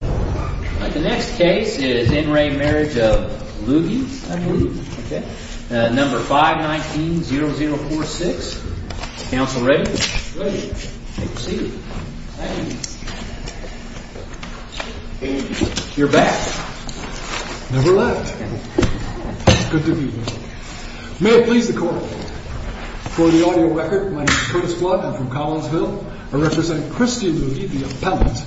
The next case is in re Marriage of Lugge, number 519-0046, counsel ready? Ready, take a seat. You're back. Never left. Good to be here. May it please the court, for the audio record, my name is Curtis Flood, I'm from Collinsville, I represent Christie Lugge, the appellant.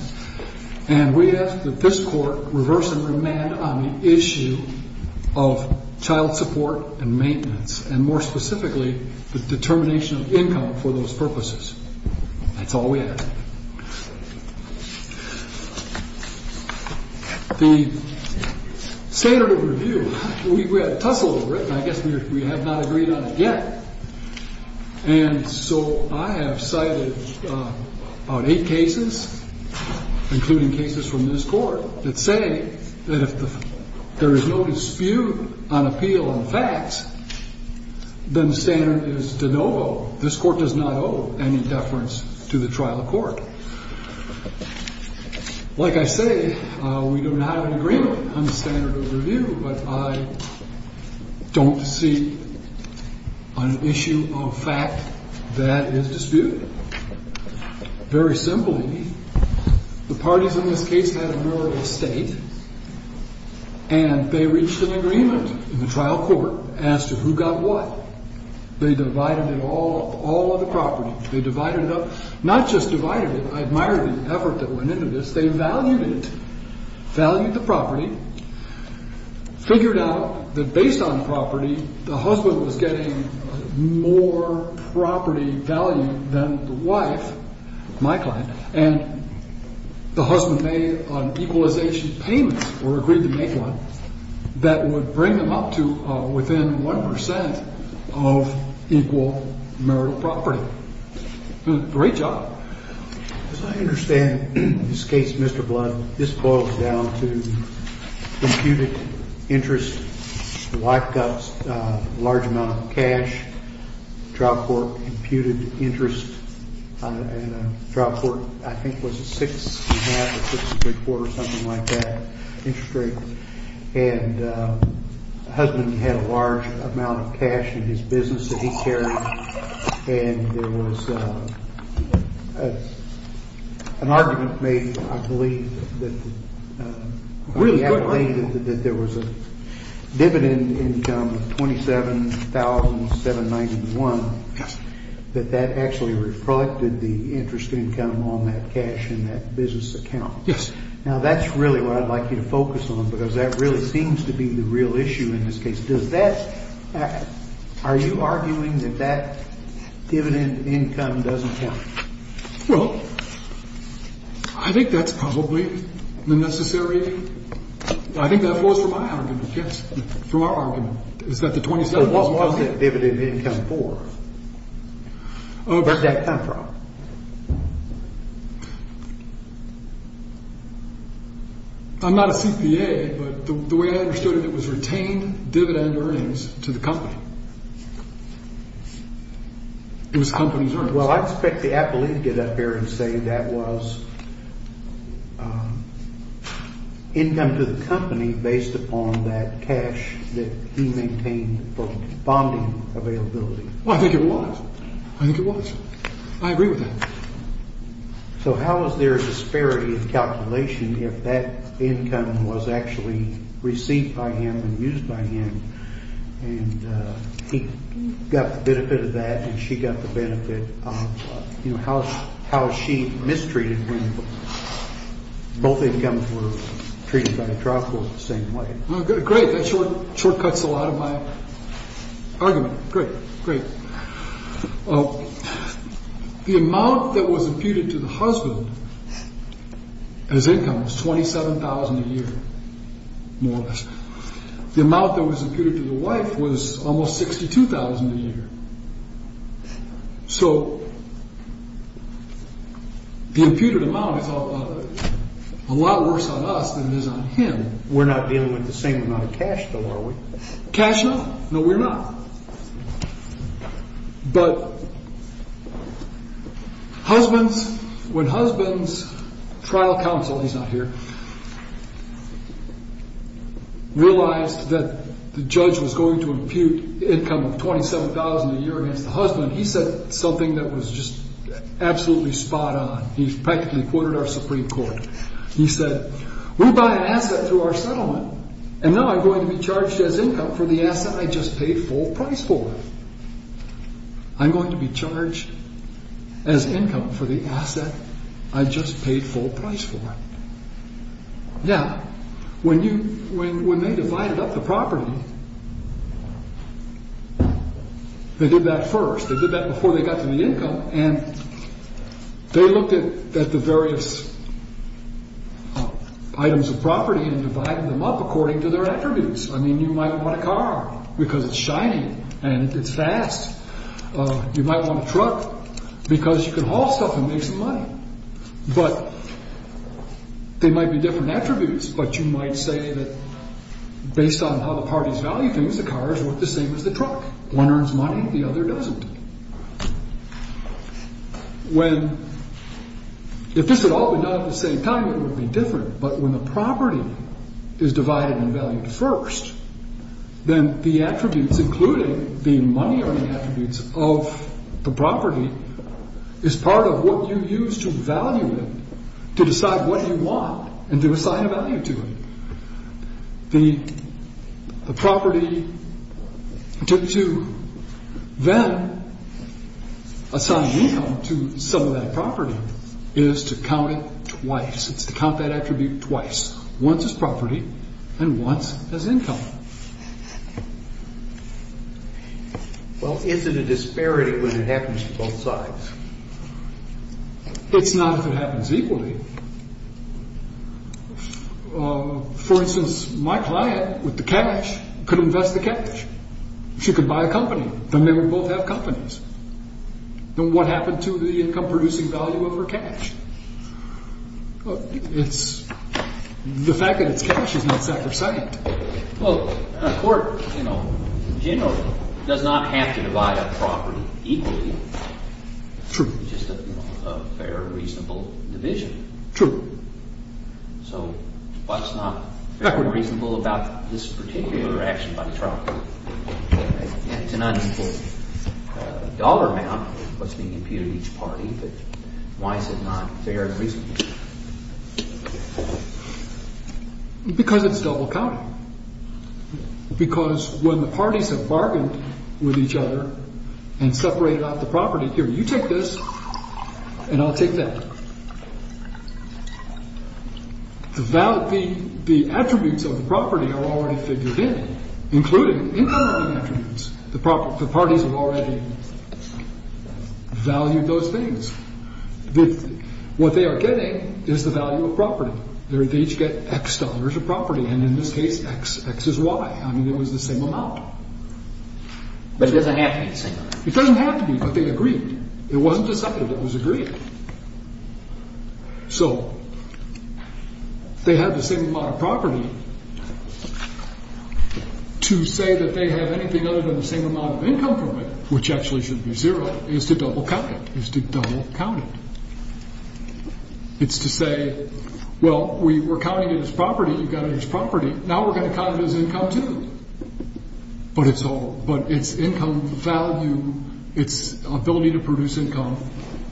And we ask that this court reverse and remand on the issue of child support and maintenance, and more specifically, the determination of income for those purposes. That's all we ask. The standard of review, we had a tussle over it, and I guess we have not agreed on it yet. And so I have cited about eight cases, including cases from this court, that say that if there is no dispute on appeal and facts, then the standard is de novo. This court does not owe any deference to the trial court. Like I say, we do not have an agreement on the standard of review, but I don't see an issue of fact that is disputed. Very simply, the parties in this case had a marital estate, and they reached an agreement in the trial court as to who got what. They divided it all up, all of the property. They divided it up, not just divided it, I admire the effort that went into this, they valued it. Valued the property, figured out that based on property, the husband was getting more property value than the wife, my client, and the husband made an equalization payment, or agreed to make one, that would bring them up to within 1% of equal marital property. Great job. As I understand this case, Mr. Blood, this boils down to imputed interest, the wife got a large amount of cash, the trial court imputed interest, and the trial court, I think, was a six and a half or six and three quarters, something like that, interest rate. And the husband had a large amount of cash in his business that he carried, and there was an argument made, I believe, that there was a dividend income of $27,791, that that actually reflected the interest income on that cash in that business account. Yes. Now, that's really what I'd like you to focus on, because that really seems to be the real issue in this case. Does that, are you arguing that that dividend income doesn't count? Well, I think that's probably the necessary, I think that flows from my argument, yes, from our argument, is that the $27,791 doesn't count. What is that dividend income for? Where did that come from? I'm not a CPA, but the way I understood it, it was retained dividend earnings to the company. It was company's earnings. Well, I'd expect the appellee to get up here and say that was income to the company based upon that cash that he maintained for bonding availability. Well, I think it was. I think it was. I agree with that. So how is there a disparity in calculation if that income was actually received by him and used by him, and he got the benefit of that and she got the benefit of, you know, how is she mistreated when both incomes were treated by the trial court the same way? OK, great. Shortcuts a lot of my argument. Great. Great. The amount that was imputed to the husband as income was $27,000 a year, more or less. The amount that was imputed to the wife was almost $62,000 a year. So the imputed amount is a lot worse on us than it is on him. We're not dealing with the same amount of cash, though, are we? No, we're not. But husbands, when husband's trial counsel, he's not here, realized that the judge was going to impute income of $27,000 a year against the husband, he said something that was just absolutely spot on. He's practically quoted our Supreme Court. He said, we buy an asset through our settlement, and now I'm going to be charged as income for the asset I just paid full price for. I'm going to be charged as income for the asset I just paid full price for. Now, when they divided up the property, they did that first. They did that before they got to the income, and they looked at the various items of property and divided them up according to their attributes. I mean, you might want a car because it's shiny and it's fast. You might want a truck because you can haul stuff and make some money. But they might be different attributes, but you might say that based on how the parties value things, the cars look the same as the truck. One earns money, the other doesn't. When, if this had all been done at the same time, it would be different. But when the property is divided and valued first, then the attributes, including the money or the attributes of the property, is part of what you use to value it, to decide what you want and to assign a value to it. The property to then assign income to some of that property is to count it twice. It's to count that attribute twice. Once as property and once as income. Well, is it a disparity when it happens to both sides? It's not if it happens equally. For instance, my client with the cash could invest the cash. She could buy a company, then they would both have companies. Then what happened to the income-producing value of her cash? The fact that it's cash is not sacrosanct. Well, a court generally does not have to divide up property equally. True. It's just a fair, reasonable division. True. So what's not fair and reasonable about this particular action by the trial court? It's an unequal dollar amount that's being imputed to each party, but why is it not fair and reasonable? Because it's double-counting. Because when the parties have bargained with each other and separated out the property, here, you take this and I'll take that. The attributes of the property are already figured in, including income attributes. The parties have already valued those things. What they are getting is the value of property. They each get X dollars of property, and in this case, X is Y. I mean, it was the same amount. But it doesn't have to be the same amount. It doesn't have to be, but they agreed. It wasn't decided, it was agreed. So, they have the same amount of property. To say that they have anything other than the same amount of income from it, which actually should be zero, is to double-count it. Is to double-count it. It's to say, well, we were counting it as property, you got it as property, now we're going to count it as income, too. But its income value, its ability to produce income,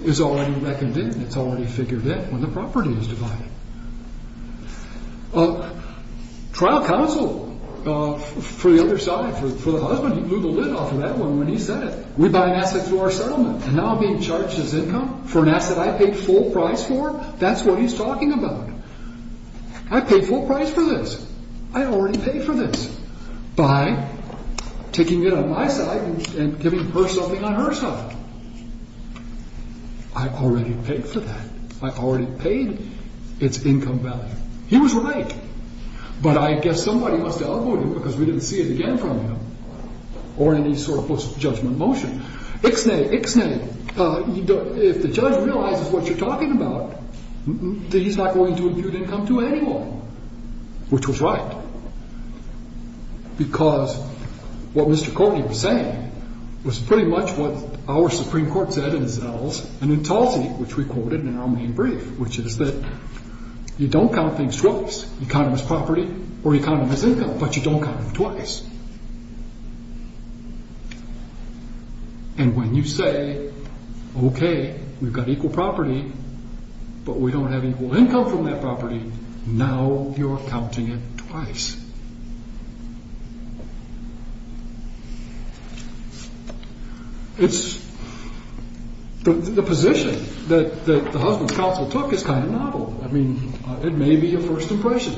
is already reckoned in. It's already figured in when the property is divided. Trial counsel, for the other side, for the husband, he blew the lid off of that one when he said it. We buy an asset through our settlement, and now I'm being charged as income for an asset I paid full price for? That's what he's talking about. I paid full price for this. I already paid for this by taking it on my side and giving her something on her side. I already paid for that. I already paid its income value. He was right. But I guess somebody must have outlawed him because we didn't see it again from him. Or any sort of post-judgment motion. Ixnay, Ixnay, if the judge realizes what you're talking about, then he's not going to impute income to anyone. Which was right. Because what Mr. Courtney was saying was pretty much what our Supreme Court said in Zell's and in Tulsi, which we quoted in our main brief. Which is that you don't count things twice. You count them as property or you count them as income, but you don't count them twice. And when you say, okay, we've got equal property, but we don't have equal income from that property, now you're counting it twice. It's the position that the husband's counsel took is kind of novel. I mean, it may be your first impression.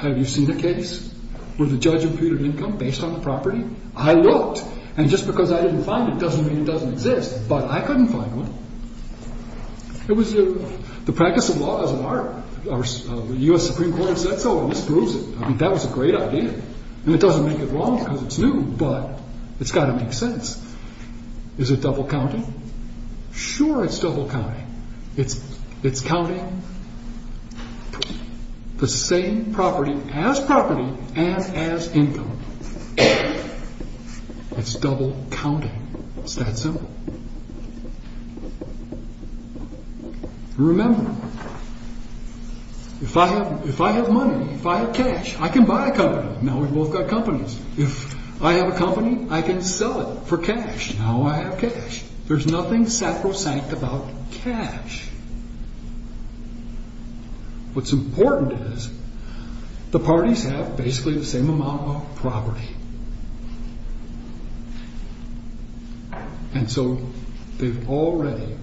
Have you seen a case where the judge imputed income based on the property? I looked. And just because I didn't find it doesn't mean it doesn't exist. But I couldn't find one. The practice of law is an art. The U.S. Supreme Court said so, and this proves it. I mean, that was a great idea. And it doesn't make it wrong because it's new, but it's got to make sense. Is it double counting? Sure, it's double counting. It's counting the same property as property and as income. It's double counting. It's that simple. Remember, if I have money, if I have cash, I can buy a company. Now we've both got companies. If I have a company, I can sell it for cash. Now I have cash. There's nothing sacrosanct about cash. What's important is the parties have basically the same amount of property. And so they've already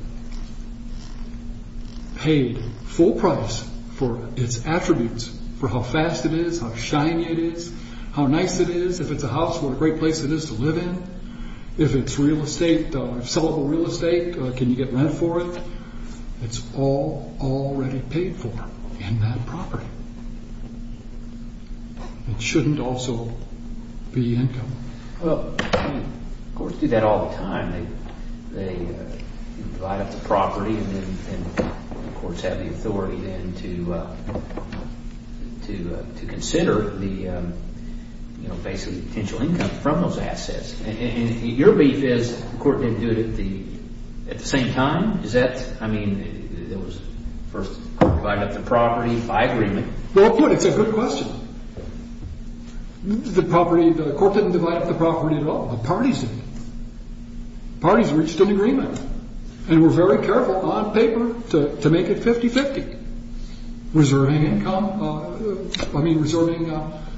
paid full price for its attributes, for how fast it is, how shiny it is, how nice it is. If it's a house, what a great place it is to live in. If it's real estate, sellable real estate, can you get rent for it? It's all already paid for in that property. It shouldn't also be income. Courts do that all the time. They divide up the property and the courts have the authority then to consider the, you know, basically potential income from those assets. And your beef is the court didn't do it at the same time? Is that, I mean, there was first divide up the property by agreement. Well, it's a good question. The property, the court didn't divide up the property at all. The parties did. Parties reached an agreement and were very careful on paper to make it 50-50. Reserving income, I mean, reserving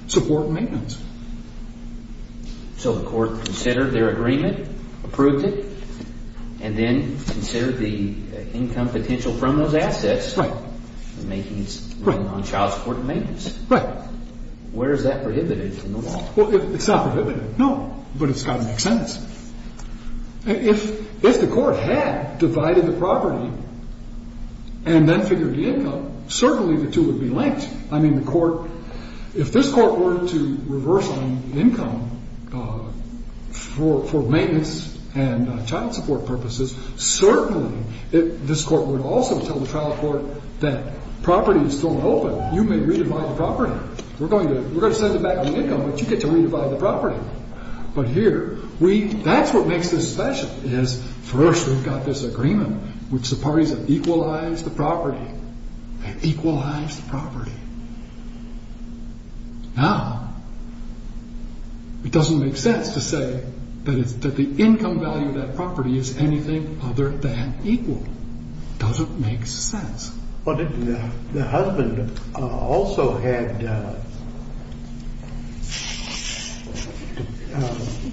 support and maintenance. So the court considered their agreement, approved it, and then considered the income potential from those assets. Right. Making its ruling on child support and maintenance. Right. Where is that prohibited in the law? Well, it's not prohibited, no, but it's got to make sense. If the court had divided the property and then figured the income, certainly the two would be linked. I mean, the court, if this court were to reverse on income for maintenance and child support purposes, certainly this court would also tell the trial court that property is still open. You may re-divide the property. We're going to send it back on the income, but you get to re-divide the property. But here, that's what makes this special, is first we've got this agreement which the parties have equalized the property. They equalized the property. Now, it doesn't make sense to say that the income value of that property is anything other than equal. It doesn't make sense. The husband also had to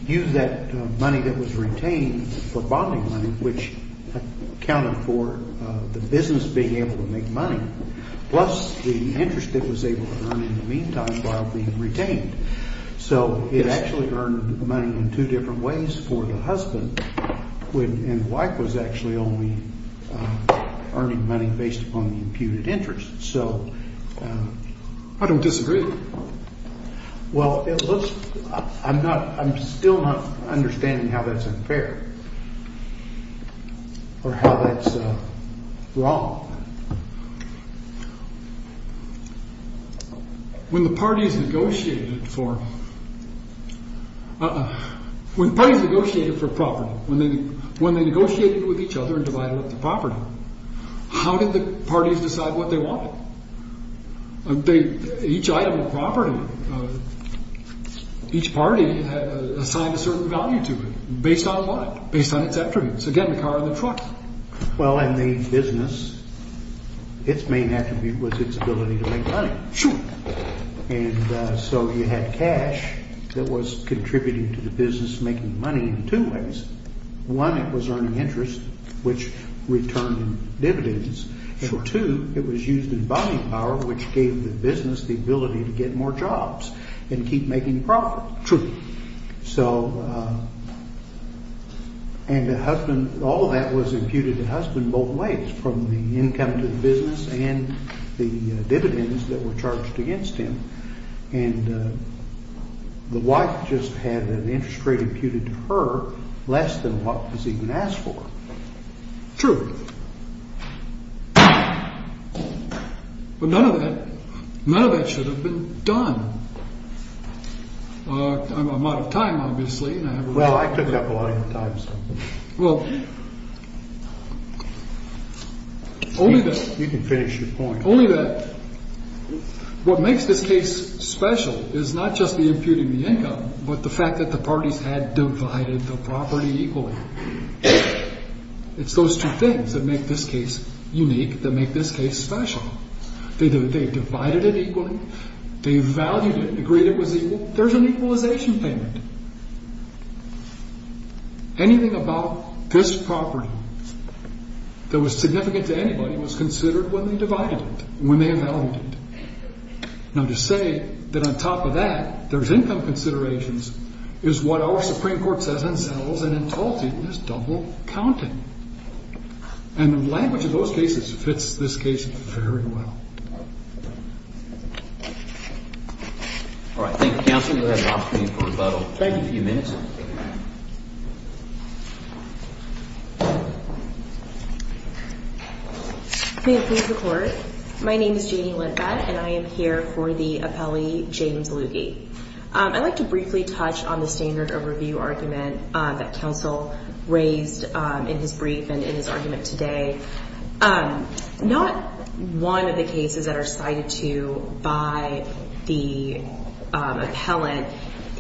use that money that was retained for bonding money, which accounted for the business being able to make money, plus the interest it was able to earn in the meantime while being retained. So it actually earned money in two different ways for the husband, and the wife was actually only earning money based upon the imputed interest. So... I don't disagree. Well, I'm still not understanding how that's unfair or how that's wrong. When the parties negotiated for property, when they negotiated with each other and divided up the property, how did the parties decide what they wanted? Each item of property, each party assigned a certain value to it. Based on what? Based on its attributes. Again, the car and the truck. Well, and the business, its main attribute was its ability to make money. Sure. And so you had cash that was contributing to the business making money in two ways. One, it was earning interest, which returned dividends, and two, it was used in bonding power, which gave the business the ability to get more jobs and keep making profit. True. So... And the husband, all of that was imputed to the husband both ways, from the income to the business and the dividends that were charged against him. And the wife just had an interest rate imputed to her less than what was even asked for. True. But none of that, none of that should have been done. I'm out of time, obviously. Well, I cooked up a lot of your time, so... Well, only that... You can finish your point. Only that what makes this case special is not just the imputing the income, but the fact that the parties had divided the property equally. It's those two things that make this case unique, that make this case special. They divided it equally. They valued it and agreed it was equal. There's an equalization payment. Anything about this property that was significant to anybody was considered when they divided it, when they evaluated it. Now, to say that on top of that, there's income considerations, is what our Supreme Court says and sells, and in Tulsa, it's double counting. And the language of those cases fits this case very well. All right, thank you, counsel. You have an opportunity for rebuttal. Thank you. A few minutes. May it please the Court. My name is Janie Lindbat, and I am here for the appellee, James Lugie. I'd like to briefly touch on the standard of review argument that counsel raised in his brief and in his argument today. Not one of the cases that are cited to by the appellant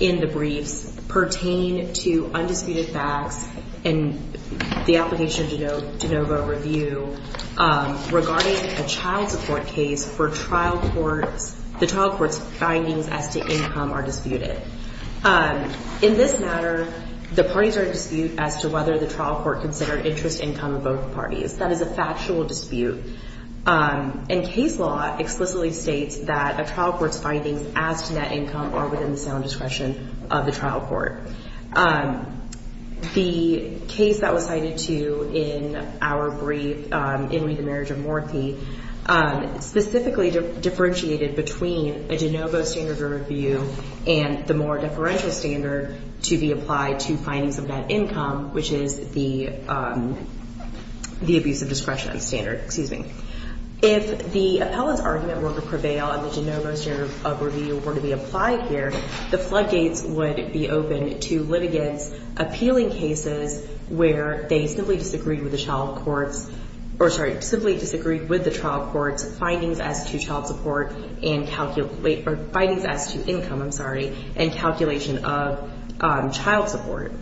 in the briefs pertain to undisputed facts in the application of de novo review regarding a child support case for trial courts. The trial court's findings as to income are disputed. In this matter, the parties are in dispute as to whether the trial court considered interest income of both parties. That is a factual dispute. And case law explicitly states that a trial court's findings as to net income are within the sound discretion of the trial court. The case that was cited to in our brief, In Re, the Marriage of Morthy, specifically differentiated between a de novo standard of review and the more deferential standard to be applied to findings of net income, which is the abuse of discretion standard. If the appellant's argument were to prevail and the de novo standard of review were to be applied here, the floodgates would be open to litigants appealing cases where they simply disagreed with the trial court's findings as to child support or findings as to income, I'm sorry, and calculation of child support.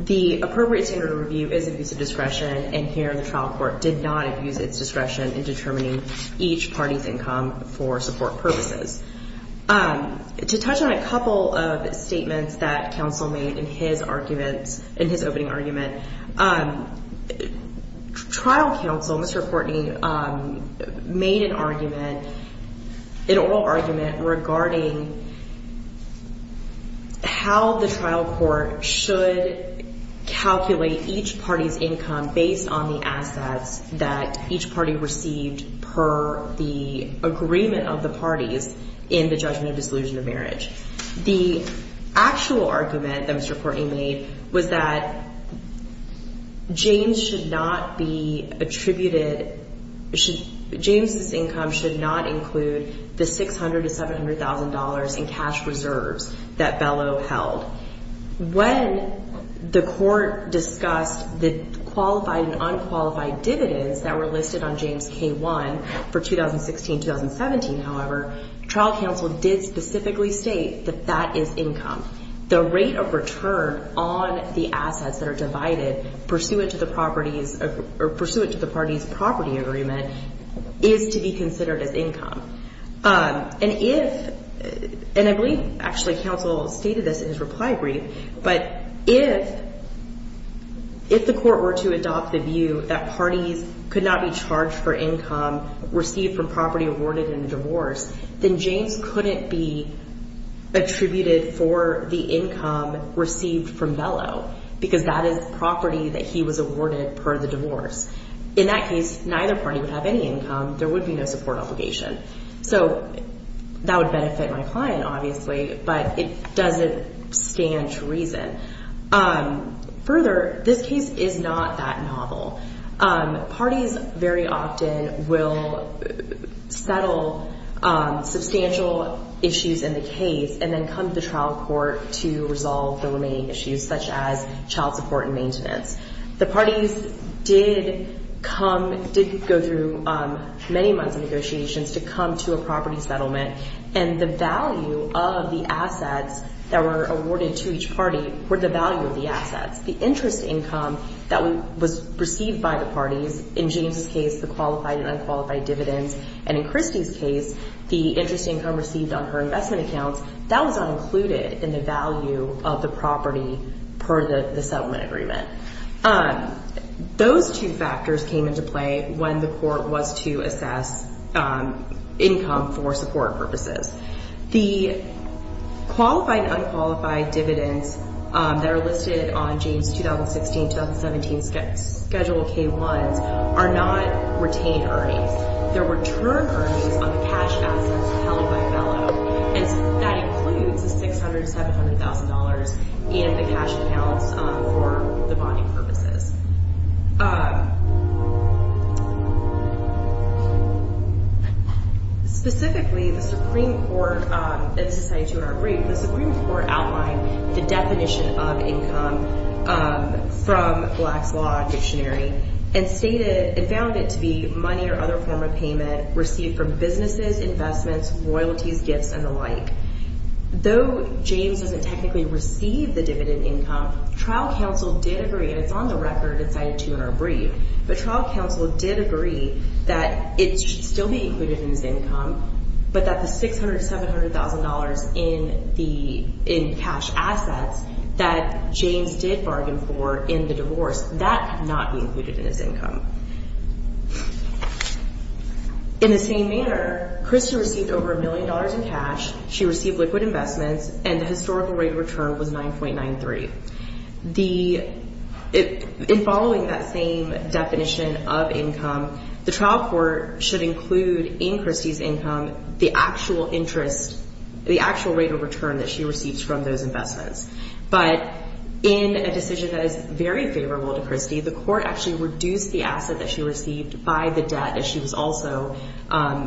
The appropriate standard of review is abuse of discretion, and here the trial court did not abuse its discretion in determining each party's income for support purposes. To touch on a couple of statements that counsel made in his arguments, in his opening argument, trial counsel, Mr. Courtney, made an argument, an oral argument, regarding how the trial court should calculate each party's income based on the assets that each party received per the agreement of the parties in the judgment of disillusion of marriage. The actual argument that Mr. Courtney made was that James's income should not include the $600,000 to $700,000 in cash reserves that Bellow held. When the court discussed the qualified and unqualified dividends that were listed on James K-1 for 2016-2017, however, trial counsel did specifically state that that is income. The rate of return on the assets that are divided pursuant to the parties' property agreement is to be considered as income. And I believe, actually, counsel stated this in his reply brief, but if the court were to adopt the view that parties could not be charged for income received from property awarded in a divorce, then James couldn't be attributed for the income received from Bellow because that is property that he was awarded per the divorce. In that case, neither party would have any income. There would be no support obligation. So that would benefit my client, obviously, but it doesn't stand to reason. Further, this case is not that novel. Parties very often will settle substantial issues in the case and then come to the trial court to resolve the remaining issues, such as child support and maintenance. The parties did go through many months of negotiations to come to a property settlement, and the value of the assets that were awarded to each party were the value of the assets. The interest income that was received by the parties, in James' case, the qualified and unqualified dividends, and in Christy's case, the interest income received on her investment accounts, that was not included in the value of the property per the settlement agreement. Those two factors came into play when the court was to assess income for support purposes. The qualified and unqualified dividends that are listed on James' 2016-2017 Schedule K-1s are not retained earnings. They're return earnings on the cash assets held by Bellow, and that includes the $600,000 to $700,000 in the cash accounts for the bonding purposes. Specifically, the Supreme Court, and this is cited to in our brief, the Supreme Court outlined the definition of income from Black's Law Dictionary and stated, and found it to be money or other form of payment received from businesses, investments, royalties, gifts, and the like. Though James doesn't technically receive the dividend income, but trial counsel did agree that it should still be included in his income, but that the $600,000 to $700,000 in cash assets that James did bargain for in the divorce, that could not be included in his income. In the same manner, Christy received over $1 million in cash, she received liquid investments, and the historical rate of return was $9.93. In following that same definition of income, the trial court should include in Christy's income the actual rate of return that she receives from those investments. But in a decision that is very favorable to Christy, the court actually reduced the asset that she received by the debt that she was also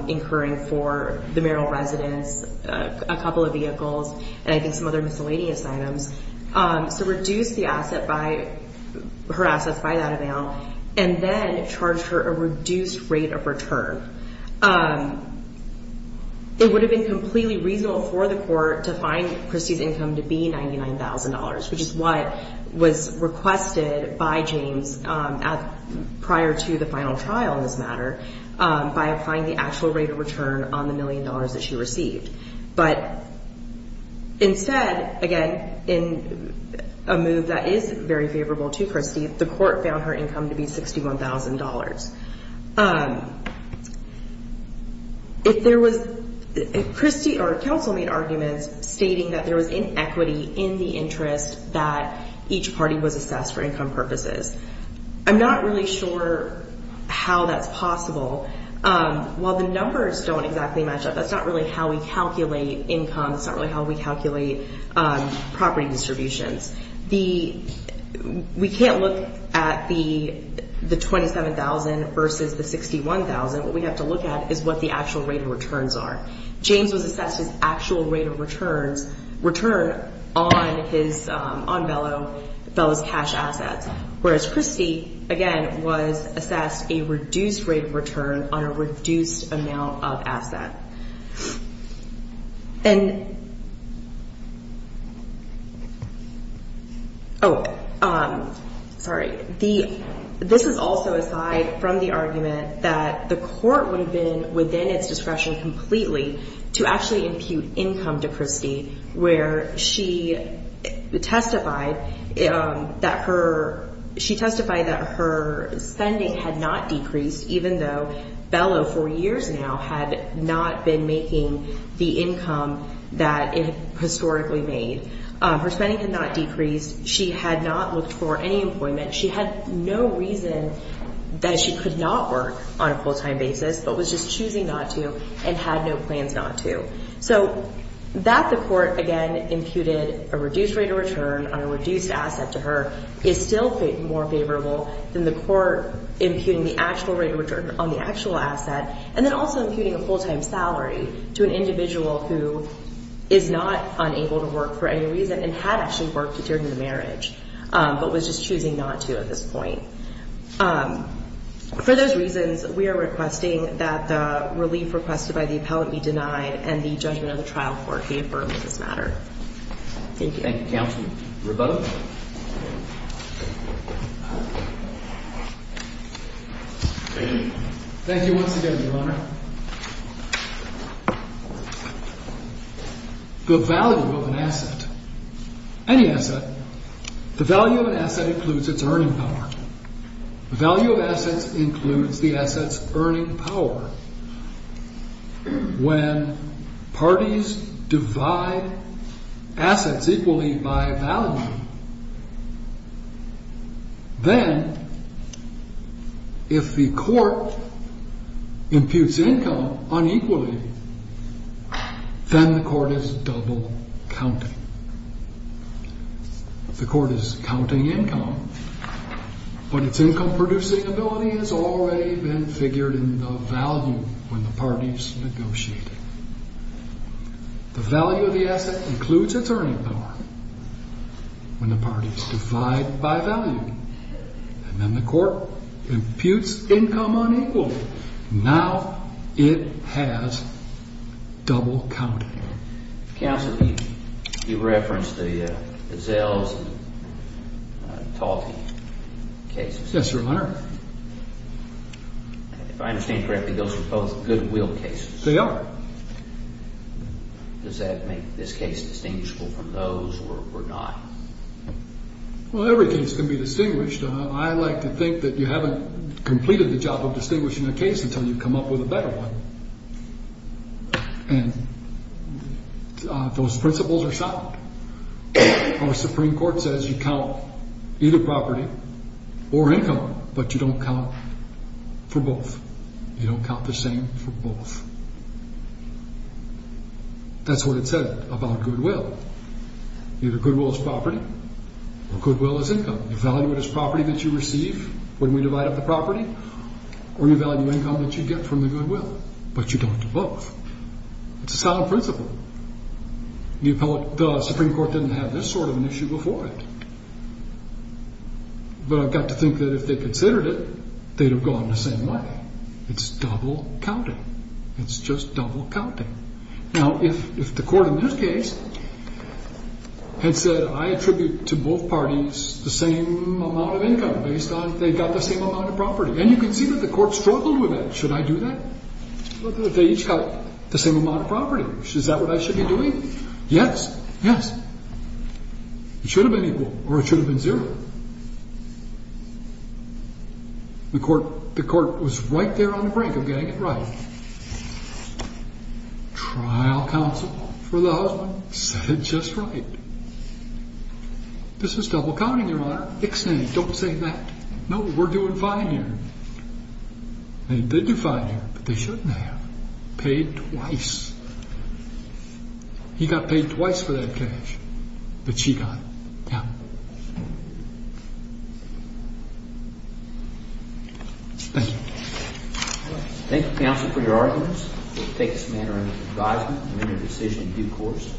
incurring for the Merrill residence, a couple of vehicles, and I think some other miscellaneous items. So reduced her assets by that amount, and then charged her a reduced rate of return. It would have been completely reasonable for the court to find Christy's income to be $99,000, which is what was requested by James prior to the final trial in this matter by applying the actual rate of return on the $1 million that she received. But instead, again, in a move that is very favorable to Christy, the court found her income to be $61,000. Christy or counsel made arguments stating that there was inequity in the interest that each party was assessed for income purposes. I'm not really sure how that's possible. While the numbers don't exactly match up, that's not really how we calculate income, that's not really how we calculate property distributions. We can't look at the $27,000 versus the $61,000. What we have to look at is what the actual rate of returns are. James was assessed his actual rate of return on Bellow's cash assets, whereas Christy, again, was assessed a reduced rate of return on a reduced amount of asset. This is also aside from the argument that the court would have been within its discretion completely to actually impute income to Christy, where she testified that her spending had not decreased even though Bellow for years now had not been making the income that it historically made. Her spending had not decreased. She had not looked for any employment. She had no reason that she could not work on a full-time basis but was just choosing not to and had no plans not to. So that the court, again, imputed a reduced rate of return on a reduced asset to her is still more favorable than the court imputing the actual rate of return on the actual asset and then also imputing a full-time salary to an individual who is not unable to work for any reason and had actually worked to determine the marriage but was just choosing not to at this point. For those reasons, we are requesting that the relief requested by the appellant be denied and the judgment of the trial court be affirmed in this matter. Thank you. Thank you, Counsel. Rebuttal. Thank you once again, Your Honor. The value of an asset, any asset, the value of an asset includes its earning power. The value of assets includes the asset's earning power. When parties divide assets equally by value, then if the court imputes income unequally, then the court is double-counting. The court is counting income, but its income-producing ability has already been figured in the value when the parties negotiate. The value of the asset includes its earning power when the parties divide by value, and then the court imputes income unequally. Now it has double-counting. Counsel, you referenced the Zales and Talty cases. Yes, Your Honor. If I understand correctly, those are both goodwill cases. They are. Does that make this case distinguishable from those or not? Well, every case can be distinguished. I like to think that you haven't completed the job of distinguishing a case until you've come up with a better one. And those principles are sound. Our Supreme Court says you count either property or income, but you don't count for both. You don't count the same for both. That's what it said about goodwill. Either goodwill is property or goodwill is income. You value it as property that you receive when we divide up the property, or you value income that you get from the goodwill, but you don't do both. It's a sound principle. The Supreme Court didn't have this sort of an issue before it. But I've got to think that if they considered it, they'd have gone the same way. It's double-counting. It's just double-counting. Now, if the court in this case had said, I attribute to both parties the same amount of income based on they got the same amount of property, and you can see that the court struggled with that. Should I do that? They each got the same amount of property. Is that what I should be doing? Yes. Yes. It should have been equal, or it should have been zero. The court was right there on the brink of getting it right. Trial counsel for the husband said just right. This is double-counting, Your Honor. Extend it. Don't say that. No, we're doing fine here. They did do fine here, but they shouldn't have. Paid twice. He got paid twice for that cash, but she got it. Yeah. Thank you. Thank you, counsel, for your arguments. We'll take this matter under advisement and render a decision in due course.